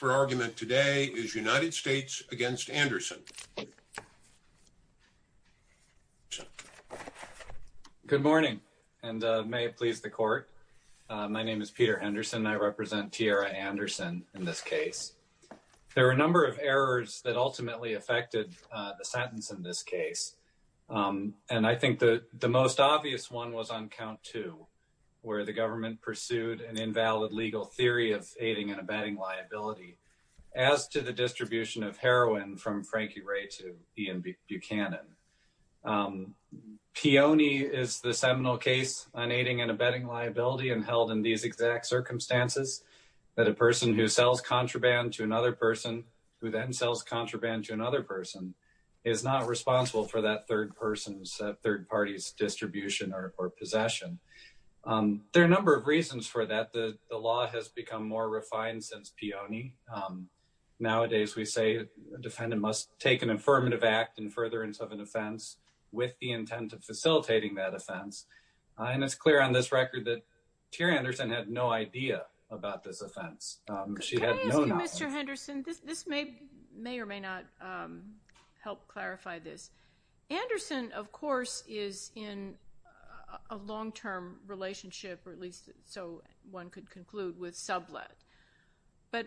Good morning, and may it please the court. My name is Peter Henderson. I represent Tierra Anderson in this case. There are a number of errors that ultimately affected the sentence in this case. And I think that the most obvious one was on count two, where the government pursued an invalid legal theory of aiding and abetting liability as to the distribution of heroin from Frankie Ray to Ian Buchanan. Peony is the seminal case on aiding and abetting liability and held in these exact circumstances, that a person who sells contraband to another person who then sells contraband to another person is not responsible for that third person's distribution or possession. There are a number of reasons for that. The law has become more refined since Peony. Nowadays, we say a defendant must take an affirmative act in furtherance of an offense with the intent of facilitating that offense. And it's clear on this record that Teria Anderson had no idea about this offense. She had no knowledge. Mr. Henderson, this may or may not help clarify this. Anderson, of course, is in a long-term relationship, or at least so one could conclude, with Sublette. But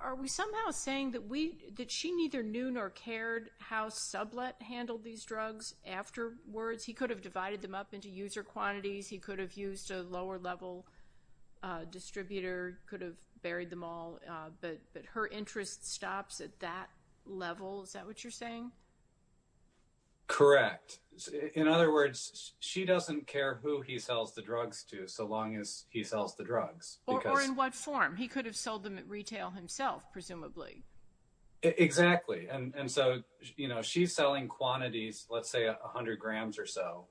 are we somehow saying that she neither knew nor cared how Sublette handled these drugs afterwards? He could have divided them up into user quantities. He could have used a lower-level distributor, could have sold them all. But her interest stops at that level. Is that what you're saying? Correct. In other words, she doesn't care who he sells the drugs to so long as he sells the drugs. Or in what form. He could have sold them at retail himself, presumably. Exactly. And so, you know, she's selling quantities, let's say, 100 grams or so.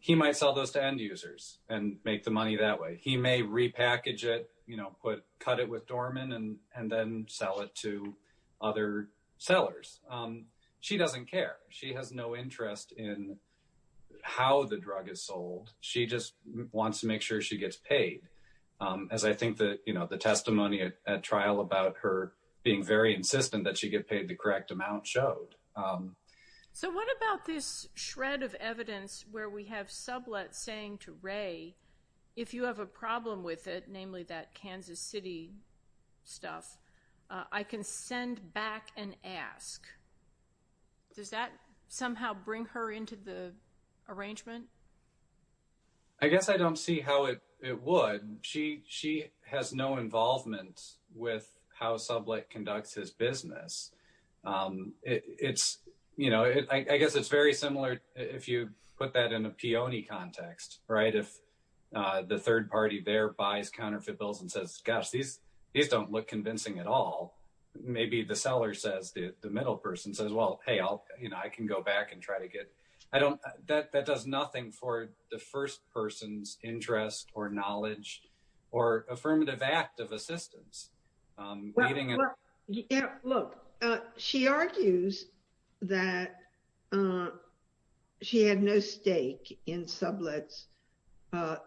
He might sell those to end-users and make the money that way. He may repackage it, you know, cut it with Dorman and then sell it to other sellers. She doesn't care. She has no interest in how the drug is sold. She just wants to make sure she gets paid, as I think the testimony at trial about her being very insistent that she get paid the correct amount showed. So what about this shred of evidence where we have Sublette saying to Ray, if you have a problem with it, namely that Kansas City stuff, I can send back and ask. Does that somehow bring her into the arrangement? I guess I don't see how it would. She has no involvement with how Sublette conducts his business. It's, you know, I guess it's very similar. If you put that in a peony context, right, if the third party there buys counterfeit bills and says, gosh, these don't look convincing at all. Maybe the seller says, the middle person says, well, hey, I can go back and try to get. I don't. That does nothing for the first person's interest or knowledge or affirmative act of assistance. Well, look, she argues that she had no stake in Sublette's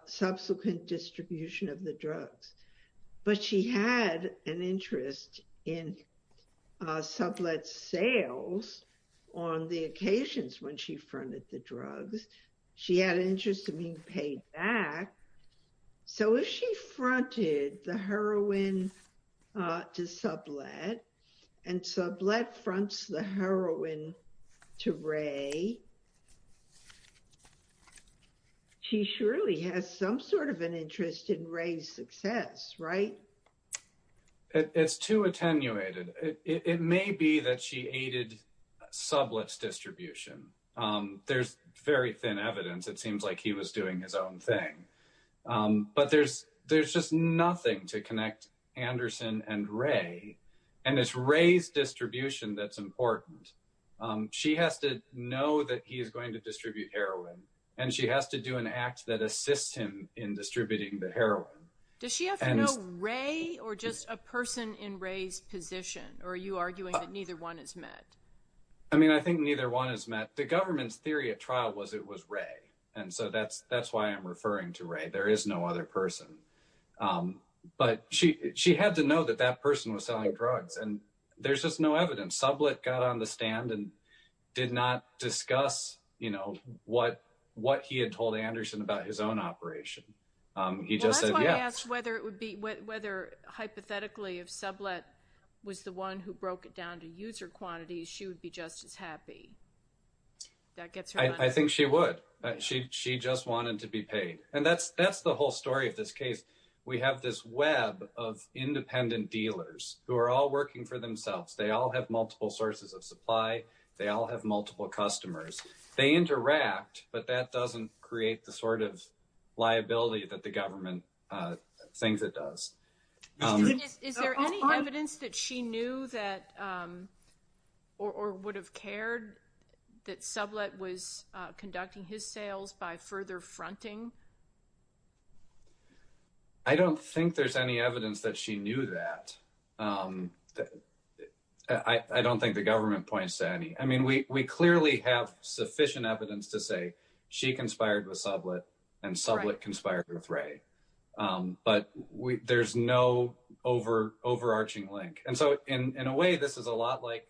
subsequent distribution of the drugs, but she had an interest in Sublette's sales on the occasions when she fronted the heroin to Ray. She surely has some sort of an interest in Ray's success, right? It's too attenuated. It may be that she aided Sublette's distribution. There's very thin evidence. It seems like he was doing his own thing. But there's just nothing to connect Anderson and Ray. And it's Ray's distribution that's important. She has to know that he is going to distribute heroin, and she has to do an act that assists him in distributing the heroin. Does she have to know Ray or just a person in Ray's position? Or are you arguing that neither one is met? I mean, I think neither one is met. The government's theory at trial was it was Ray. And so that's why I'm referring to Ray. There is no other person. But she had to know that that person was selling drugs. And there's just no evidence. Sublette got on the stand and did not discuss, you know, what he had told Anderson about his own operation. He just said yes. Well, that's why I asked whether it would be, whether hypothetically if Sublette was the one who broke it down to user quantities, she would be just as happy. That gets her She just wanted to be paid. And that's the whole story of this case. We have this web of independent dealers who are all working for themselves. They all have multiple sources of supply. They all have multiple customers. They interact, but that doesn't create the sort of liability that the government thinks it does. Is there any evidence that she knew that or would have cared that Sublette was conducting his sales by further fronting? I don't think there's any evidence that she knew that. I don't think the government points to any. I mean, we clearly have sufficient evidence to say she conspired with Sublette and Sublette conspired with Ray, but there's no overarching link. And so in a way, this is a lot like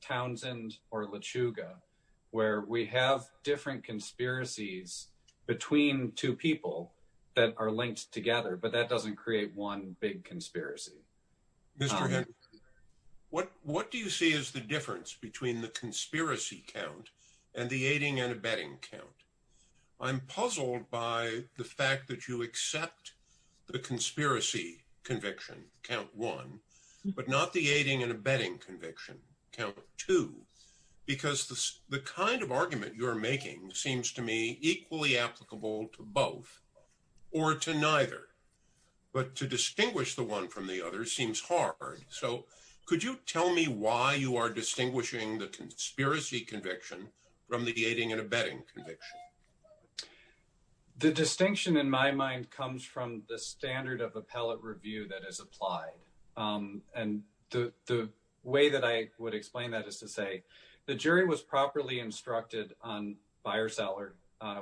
Townsend or LeChuga, where we have different conspiracies between two people that are linked together, but that doesn't create one big conspiracy. Mr. Henry, what do you see as the difference between the conspiracy count and the aiding and abetting count? I'm puzzled by the fact that you accept the conspiracy conviction count one, but not the aiding and abetting conviction count two, because the kind of argument you're making seems to me equally applicable to both or to neither. But to distinguish the one from the other seems hard. So could you tell me why you are distinguishing the aiding and abetting conviction? The distinction in my mind comes from the standard of appellate review that is applied. And the way that I would explain that is to say the jury was properly instructed on buyer-seller,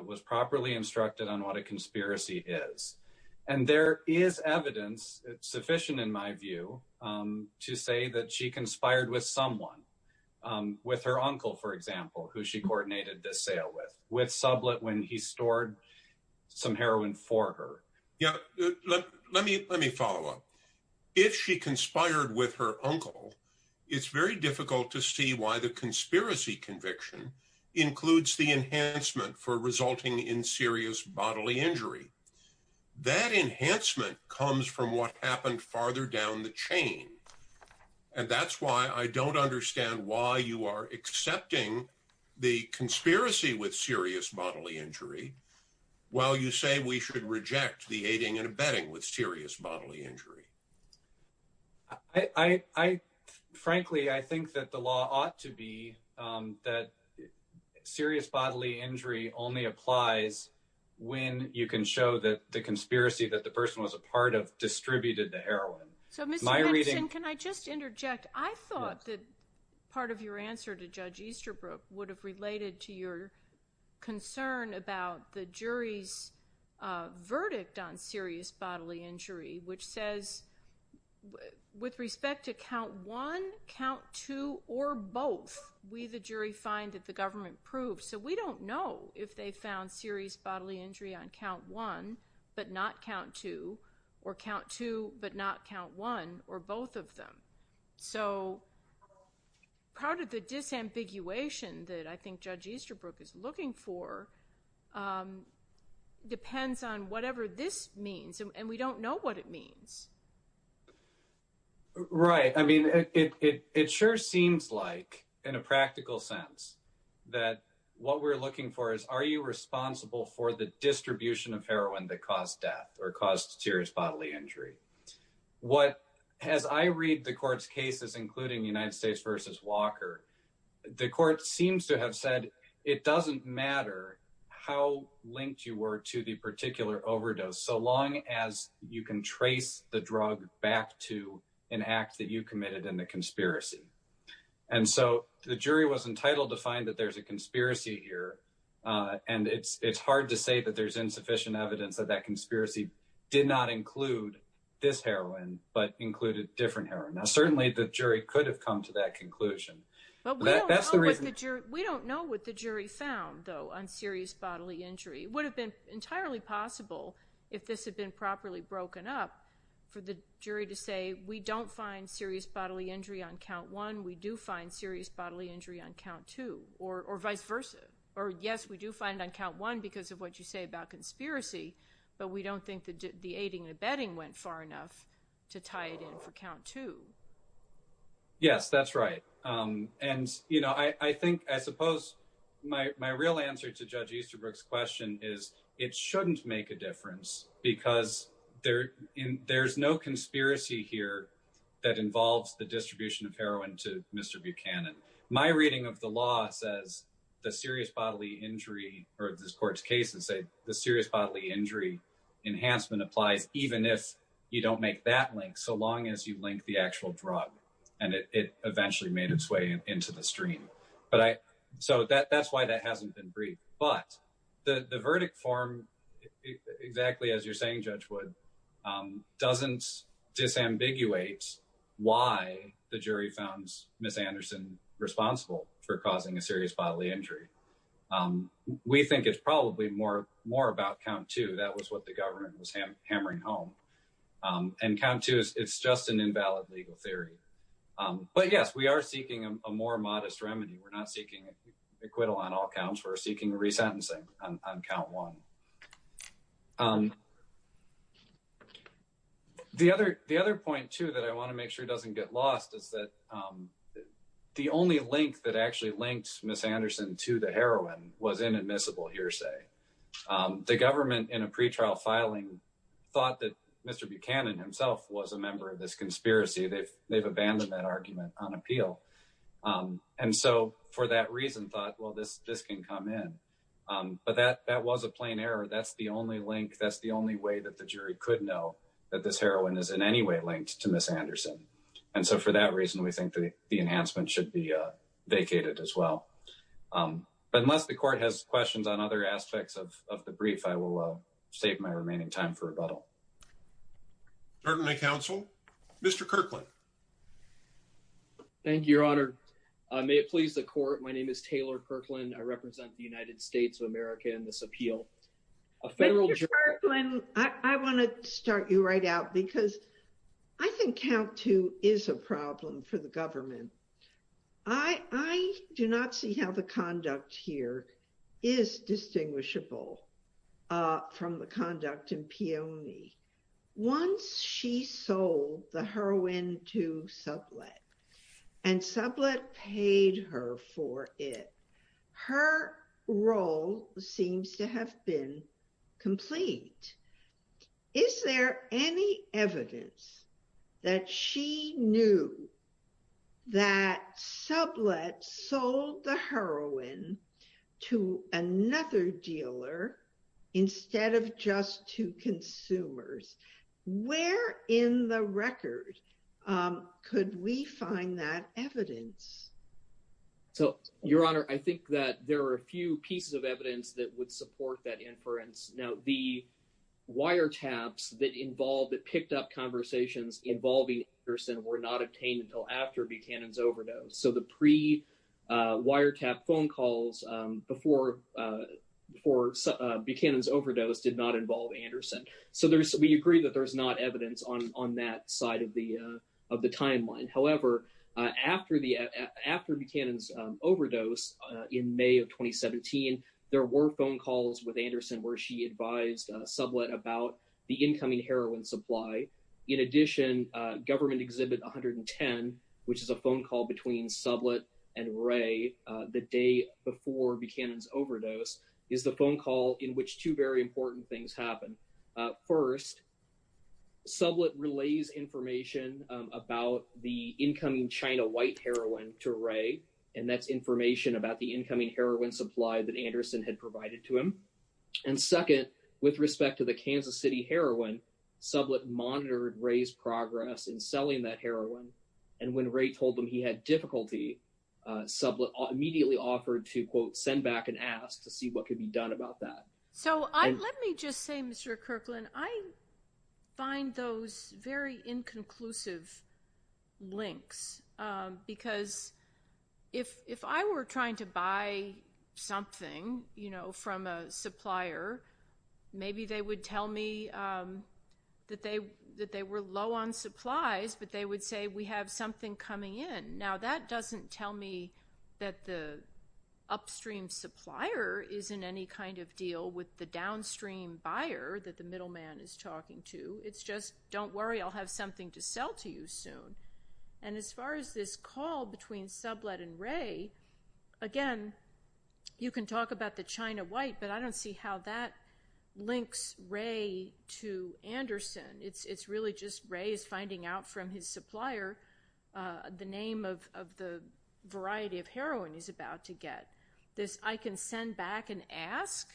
was properly instructed on what a conspiracy is. And there is evidence, sufficient in my view, to say that she conspired with someone, with her uncle, for example, who she coordinated this sale with, with Sublet when he stored some heroin for her. Yeah, let me follow up. If she conspired with her uncle, it's very difficult to see why the conspiracy conviction includes the enhancement for resulting in serious bodily injury. That enhancement comes from what happened farther down the chain. And that's why I don't understand why you are accepting the conspiracy with serious bodily injury while you say we should reject the aiding and abetting with serious bodily injury. I frankly, I think that the law ought to be that serious bodily injury only applies when you can show that the conspiracy that the person was a part of distributed the heroin. So Mr. Henderson, can I just interject? I thought that part of your answer to Judge Easterbrook would have related to your concern about the jury's verdict on serious bodily injury, which says with respect to count one, count two, or both, we the jury find that the government proved. So we don't know if they found serious bodily injury on but not count two, or count two, but not count one, or both of them. So part of the disambiguation that I think Judge Easterbrook is looking for depends on whatever this means. And we don't know what it means. Right. I mean, it sure seems like in a practical sense, that what we're looking for is are you responsible for the distribution of heroin that caused death or caused serious bodily injury? What, as I read the court's cases, including United States versus Walker, the court seems to have said, it doesn't matter how linked you were to the particular overdose, so long as you can trace the drug back to an act that you committed in the conspiracy. And so the jury was entitled to find that there's a conspiracy here. And it's hard to say that there's insufficient evidence that that conspiracy did not include this heroin, but included different heroin. Now, certainly, the jury could have come to that conclusion. But we don't know what the jury found, though, on serious bodily injury. It would have been entirely possible, if this had been properly broken up, for the jury to say we don't find serious bodily injury on count one, we do find serious bodily injury on count two, or vice versa. Or yes, we do find on count one because of what you say about conspiracy. But we don't think that the aiding and abetting went far enough to tie it in for count two. Yes, that's right. And, you know, I think I suppose my real answer to Judge Easterbrook's question is, it shouldn't make a difference because there's no conspiracy here that involves the distribution of heroin to Mr. Buchanan. My reading of the law says the serious bodily injury or this court's cases say the serious bodily injury enhancement applies even if you don't make that link so long as you link the actual drug, and it eventually made its way into the stream. But so that's why that hasn't been briefed. But the verdict form, exactly as you're saying, Judge Wood, doesn't disambiguate why the jury founds Ms. Anderson responsible for causing a serious bodily injury. We think it's probably more about count two. That was what the government was hammering home. And count two, it's just an invalid legal theory. But yes, we are seeking a more modest remedy. We're not seeking acquittal on all counts. We're seeking resentencing on count one. The other point, too, that I want to make sure doesn't get lost is that the only link that actually linked Ms. Anderson to the heroin was inadmissible hearsay. The government in a pretrial filing thought that Mr. Buchanan himself was a member of this conspiracy. They've abandoned that and so for that reason thought, well, this can come in. But that was a plain error. That's the only link. That's the only way that the jury could know that this heroin is in any way linked to Ms. Anderson. And so for that reason, we think that the enhancement should be vacated as well. But unless the court has questions on other aspects of the brief, I will save my remaining time for May it please the court. My name is Taylor Kirkland. I represent the United States of America in this appeal. I want to start you right out because I think count two is a problem for the government. I do not see how the conduct here is distinguishable from the conduct in Peony. Once she sold the heroin to Sublet and Sublet paid her for it. Her role seems to have been complete. Is there any evidence that she knew that Sublet sold the heroin to another dealer instead of just to consumers? Where in the record could we find that evidence? So your honor, I think that there are a few pieces of evidence that would support that inference. Now the wiretaps that involved that picked up conversations involving Anderson were not Buchanan's overdose did not involve Anderson. So we agree that there's not evidence on that side of the timeline. However, after Buchanan's overdose in May of 2017, there were phone calls with Anderson where she advised Sublet about the incoming heroin supply. In addition, government exhibit 110, which is a phone call between Sublet and Ray the day before Buchanan's in which two very important things happen. First, Sublet relays information about the incoming China white heroin to Ray. And that's information about the incoming heroin supply that Anderson had provided to him. And second, with respect to the Kansas City heroin, Sublet monitored Ray's progress in selling that heroin. And when Ray told him he had difficulty, Sublet immediately offered to quote, send back and ask to see what could be done about that. So let me just say, Mr. Kirkland, I find those very inconclusive links because if I were trying to buy something, you know, from a supplier, maybe they would tell me that they were low on supplies, but they would say we have something coming in. Now that doesn't tell me that the upstream supplier is in any kind of deal with the downstream buyer that the middleman is talking to. It's just, don't worry, I'll have something to sell to you soon. And as far as this call between Sublet and Ray, again, you can talk about the China white, but I don't see how that links Ray to Anderson. It's really just Ray is a supplier, the name of the variety of heroin he's about to get. This I can send back and ask,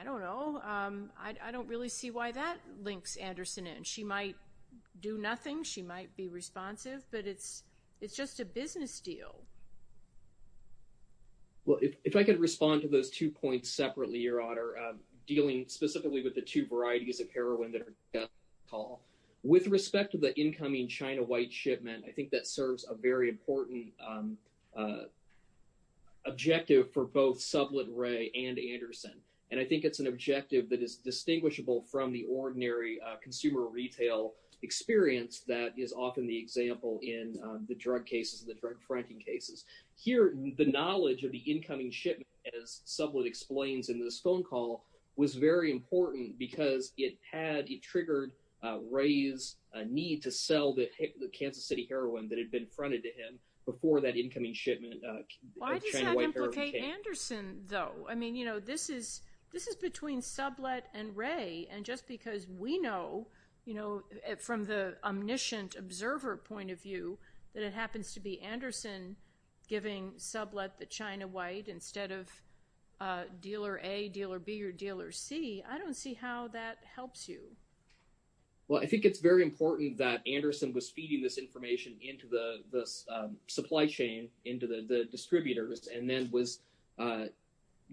I don't know. I don't really see why that links Anderson in. She might do nothing. She might be responsive, but it's just a business deal. Well, if I could respond to those two points separately, Your Honor, dealing specifically with the two varieties of heroin that are the incoming China white shipment, I think that serves a very important objective for both Sublet, Ray, and Anderson. And I think it's an objective that is distinguishable from the ordinary consumer retail experience that is often the example in the drug cases, the drug fracking cases. Here, the knowledge of the incoming shipment, as Sublet explains in this call, was very important because it triggered Ray's need to sell the Kansas City heroin that had been fronted to him before that incoming shipment of China white heroin came. Why does that implicate Anderson, though? I mean, this is between Sublet and Ray, and just because we know from the omniscient observer point of view that it happens to be your deal or be your deal or see, I don't see how that helps you. Well, I think it's very important that Anderson was feeding this information into the supply chain, into the distributors, and then was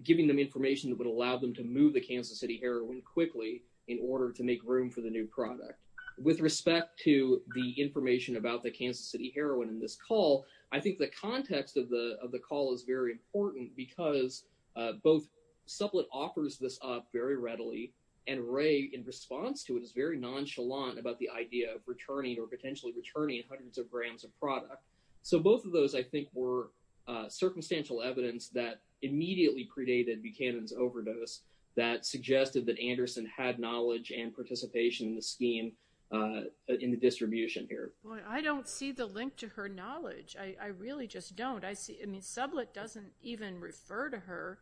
giving them information that would allow them to move the Kansas City heroin quickly in order to make room for the new product. With respect to the information about the Kansas City heroin in this call, I think the context of the call is very similar. Anderson offers this up very readily, and Ray, in response to it, is very nonchalant about the idea of returning or potentially returning hundreds of grams of product. So both of those, I think, were circumstantial evidence that immediately predated Buchanan's overdose that suggested that Anderson had knowledge and participation in the scheme in the distribution here. Well, I don't see the link to her knowledge. I really just don't. I mean, Sublet doesn't even refer to her.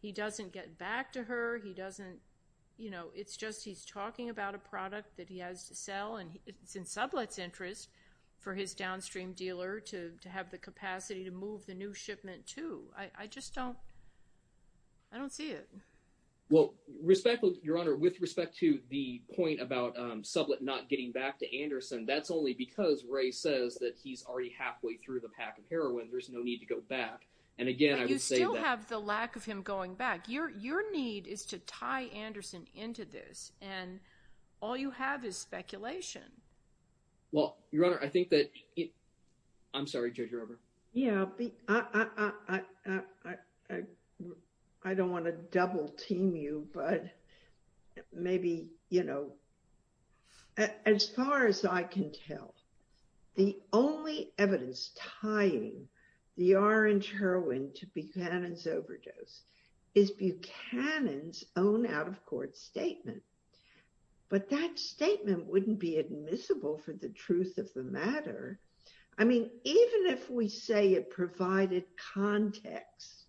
He doesn't get to her. He doesn't, you know, it's just he's talking about a product that he has to sell, and it's in Sublet's interest for his downstream dealer to have the capacity to move the new shipment to. I just don't, I don't see it. Well, respectfully, Your Honor, with respect to the point about Sublet not getting back to Anderson, that's only because Ray says that he's already halfway through the pack of heroin. There's no need to go back. And again, I would have the lack of him going back. Your need is to tie Anderson into this, and all you have is speculation. Well, Your Honor, I think that it, I'm sorry, Judge Rober. Yeah, I don't want to double team you, but maybe, you know, as far as I can tell, the only evidence tying the orange heroin to Buchanan's overdose is Buchanan's own out-of-court statement. But that statement wouldn't be admissible for the truth of the matter. I mean, even if we say it provided context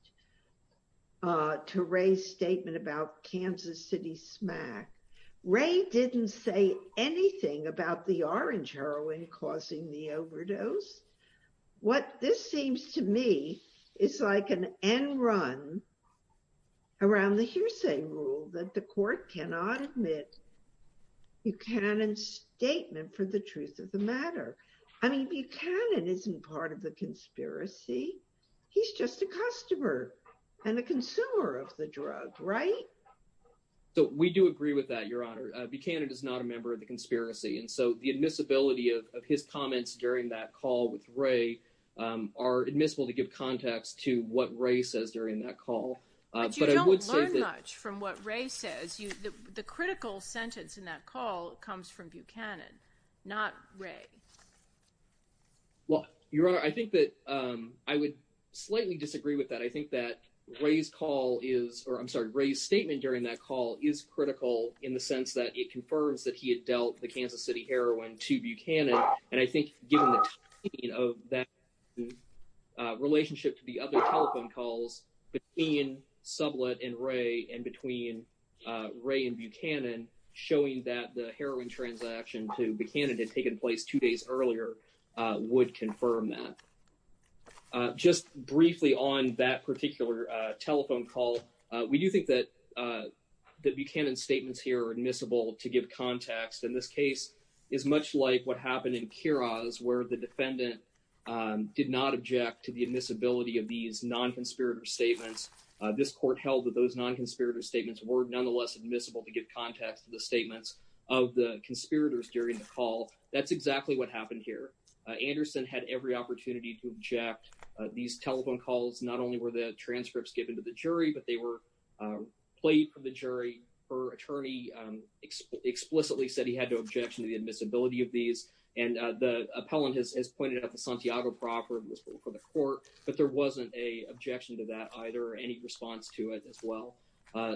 to Ray's statement about Kansas City SMAC, Ray didn't say anything about the orange heroin causing the overdose. What this seems to me is like an end run around the hearsay rule that the court cannot admit Buchanan's statement for the truth of the matter. I mean, Buchanan isn't part of the conspiracy. He's just a customer and a consumer of the drug, right? So we do agree with that, Your Honor. Buchanan is not a member of the conspiracy, and so the admissibility of his comments during that call with Ray are admissible to give context to what Ray says during that call. But you don't learn much from what Ray says. The critical sentence in that call comes from Buchanan, not Ray. Well, Your Honor, I think that I would slightly disagree with that. I think that Ray's call is, or I'm sorry, Ray's statement during that call is critical in the sense that it confirms that he had dealt the Kansas City heroin to Buchanan. And I think given the timing of that relationship to the other telephone calls between Sublette and Ray and between Ray and Buchanan, showing that the heroin transaction to Buchanan had taken place two days earlier would confirm that. Just briefly on that particular telephone call, we do think that Buchanan's statements here are admissible to give context. And this case is much like what happened in Kiroz, where the defendant did not object to the admissibility of these non-conspirator statements. This court held that those non-conspirator statements were nonetheless admissible to give context to the statements of the conspirators during the call. That's exactly what happened here. Anderson had every opportunity to object. These telephone calls not only were the transcripts given to the jury, but they were played from the jury. Her attorney explicitly said he had no objection to the admissibility of these. And the appellant has pointed out the Santiago property was for the court, but there wasn't an objection to that either, any response to it as well.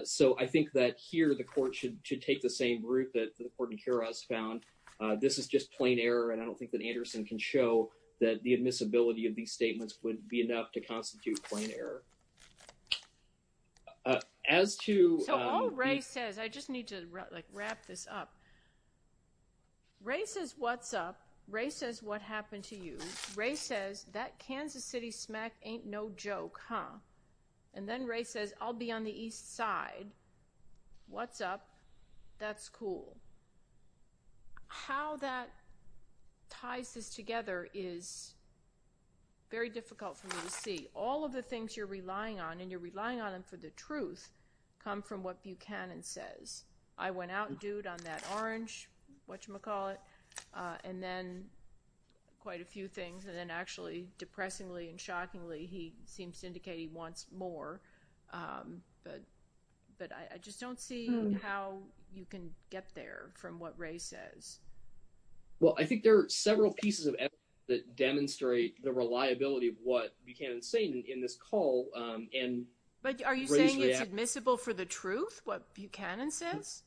So I think that here the court should take the same route that the court in Kiroz found. This is just plain error, and I don't think that Anderson can show that the admissibility of these statements would be enough to constitute plain error. As to- So all Ray says, I just need to like wrap this up. Ray says, what's up? Ray says, what happened to you? Ray says, that Kansas City smack ain't no joke, huh? And then Ray says, I'll be on the east side. What's up? That's cool. How that ties this together is very difficult for me to see. All of the things you're relying on, and you're relying on them for the truth, come from what Buchanan says. I went out and dude on that orange, whatchamacallit, and then quite a few things, and then actually, depressingly and shockingly, he seems to indicate he wants more. But I just don't see how you can get there from what Ray says. Well, I think there are several pieces of evidence that demonstrate the reliability of what Buchanan's saying in this call. But are you saying it's admissible for the truth, what Buchanan says?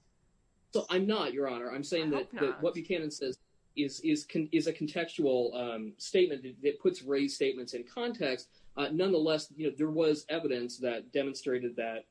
So I'm not, Your Honor. I'm saying that what Buchanan says is a contextual statement that puts Ray's statements in context. Nonetheless, there was evidence that demonstrated that,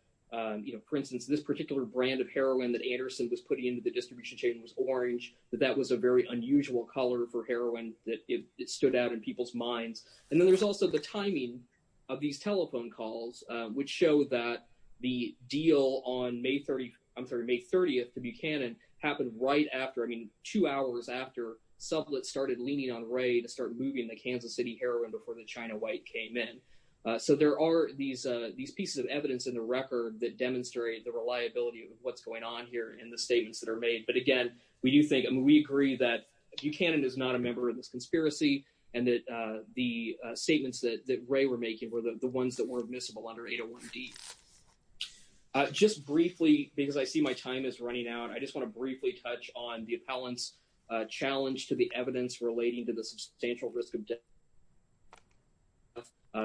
for instance, this particular brand of heroin that Anderson was putting into the distribution chain was orange, that that was a very unusual color for heroin, that it stood out in people's minds. And then there's also the timing of these telephone calls, which show that the deal on May 30, I'm sorry, May 30th to Buchanan happened right after, I mean, two hours after Sublet started leaning on Ray to start moving the Kansas City heroin before the China White came in. So there are these pieces of evidence in the record that demonstrate the reliability of what's going on here in the statements that are made. But again, we do think, I mean, we agree that Buchanan is not a member of this conspiracy, and that the statements that Ray were making were the ones that were admissible under 801D. Just briefly, because I see my time is running out, I just want to briefly touch on the appellant's challenge to the evidence relating to the substantial risk of death.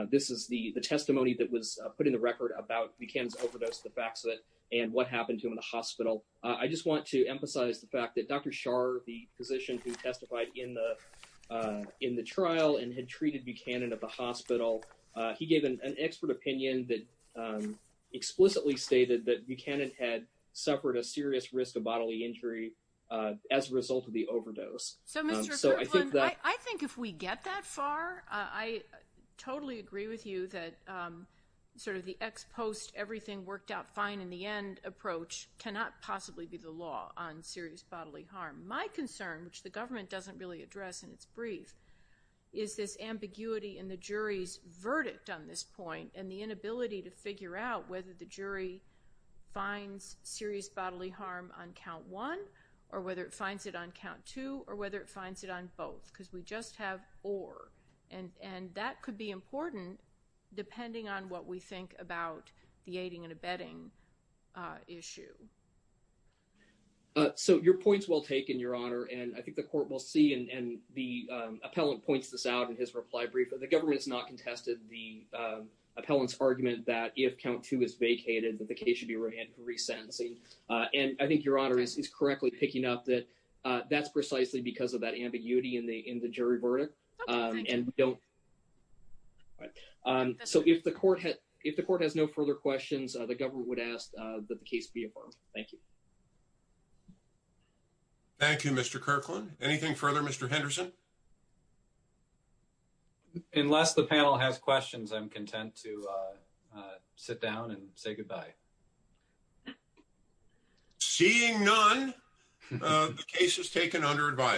This is the testimony that was put in the record about Buchanan's overdose, the facts of it, and what happened to him in the hospital. I just want to emphasize the fact that Dr. Scharr, the physician who testified in the trial and had treated Buchanan at the hospital, he gave an expert opinion that explicitly stated that Buchanan had suffered a serious risk of bodily injury as a result of the overdose. So, Mr. Kirkland, I think if we get that far, I totally agree with you that sort of the ex-post, everything worked out fine in the end approach cannot possibly be the law on serious bodily harm. My concern, which the government doesn't really address in its brief, is this ambiguity in the jury's verdict on this point, and the inability to figure out whether the jury finds serious bodily harm on count one, or whether it finds it on count two, or whether it finds it on both, because we just have or, and that could be important depending on what we think about the aiding and abetting issue. So, your point's well taken, Your Honor, and I think the court will see, and the appellant points this out in his reply brief, the government has not contested the appellant's argument that if count two is vacated, that the case should be remanded for resentencing, and I think Your Honor is correctly picking up that that's precisely because of that ambiguity in the in the jury verdict, and we don't. So, if the court has no further questions, the government would ask that the case be affirmed. Thank you. Thank you, Mr. Kirkland. Anything further, Mr. Henderson? Unless the panel has questions, I'm content to sit down and say goodbye. Seeing none, the case is taken under advice.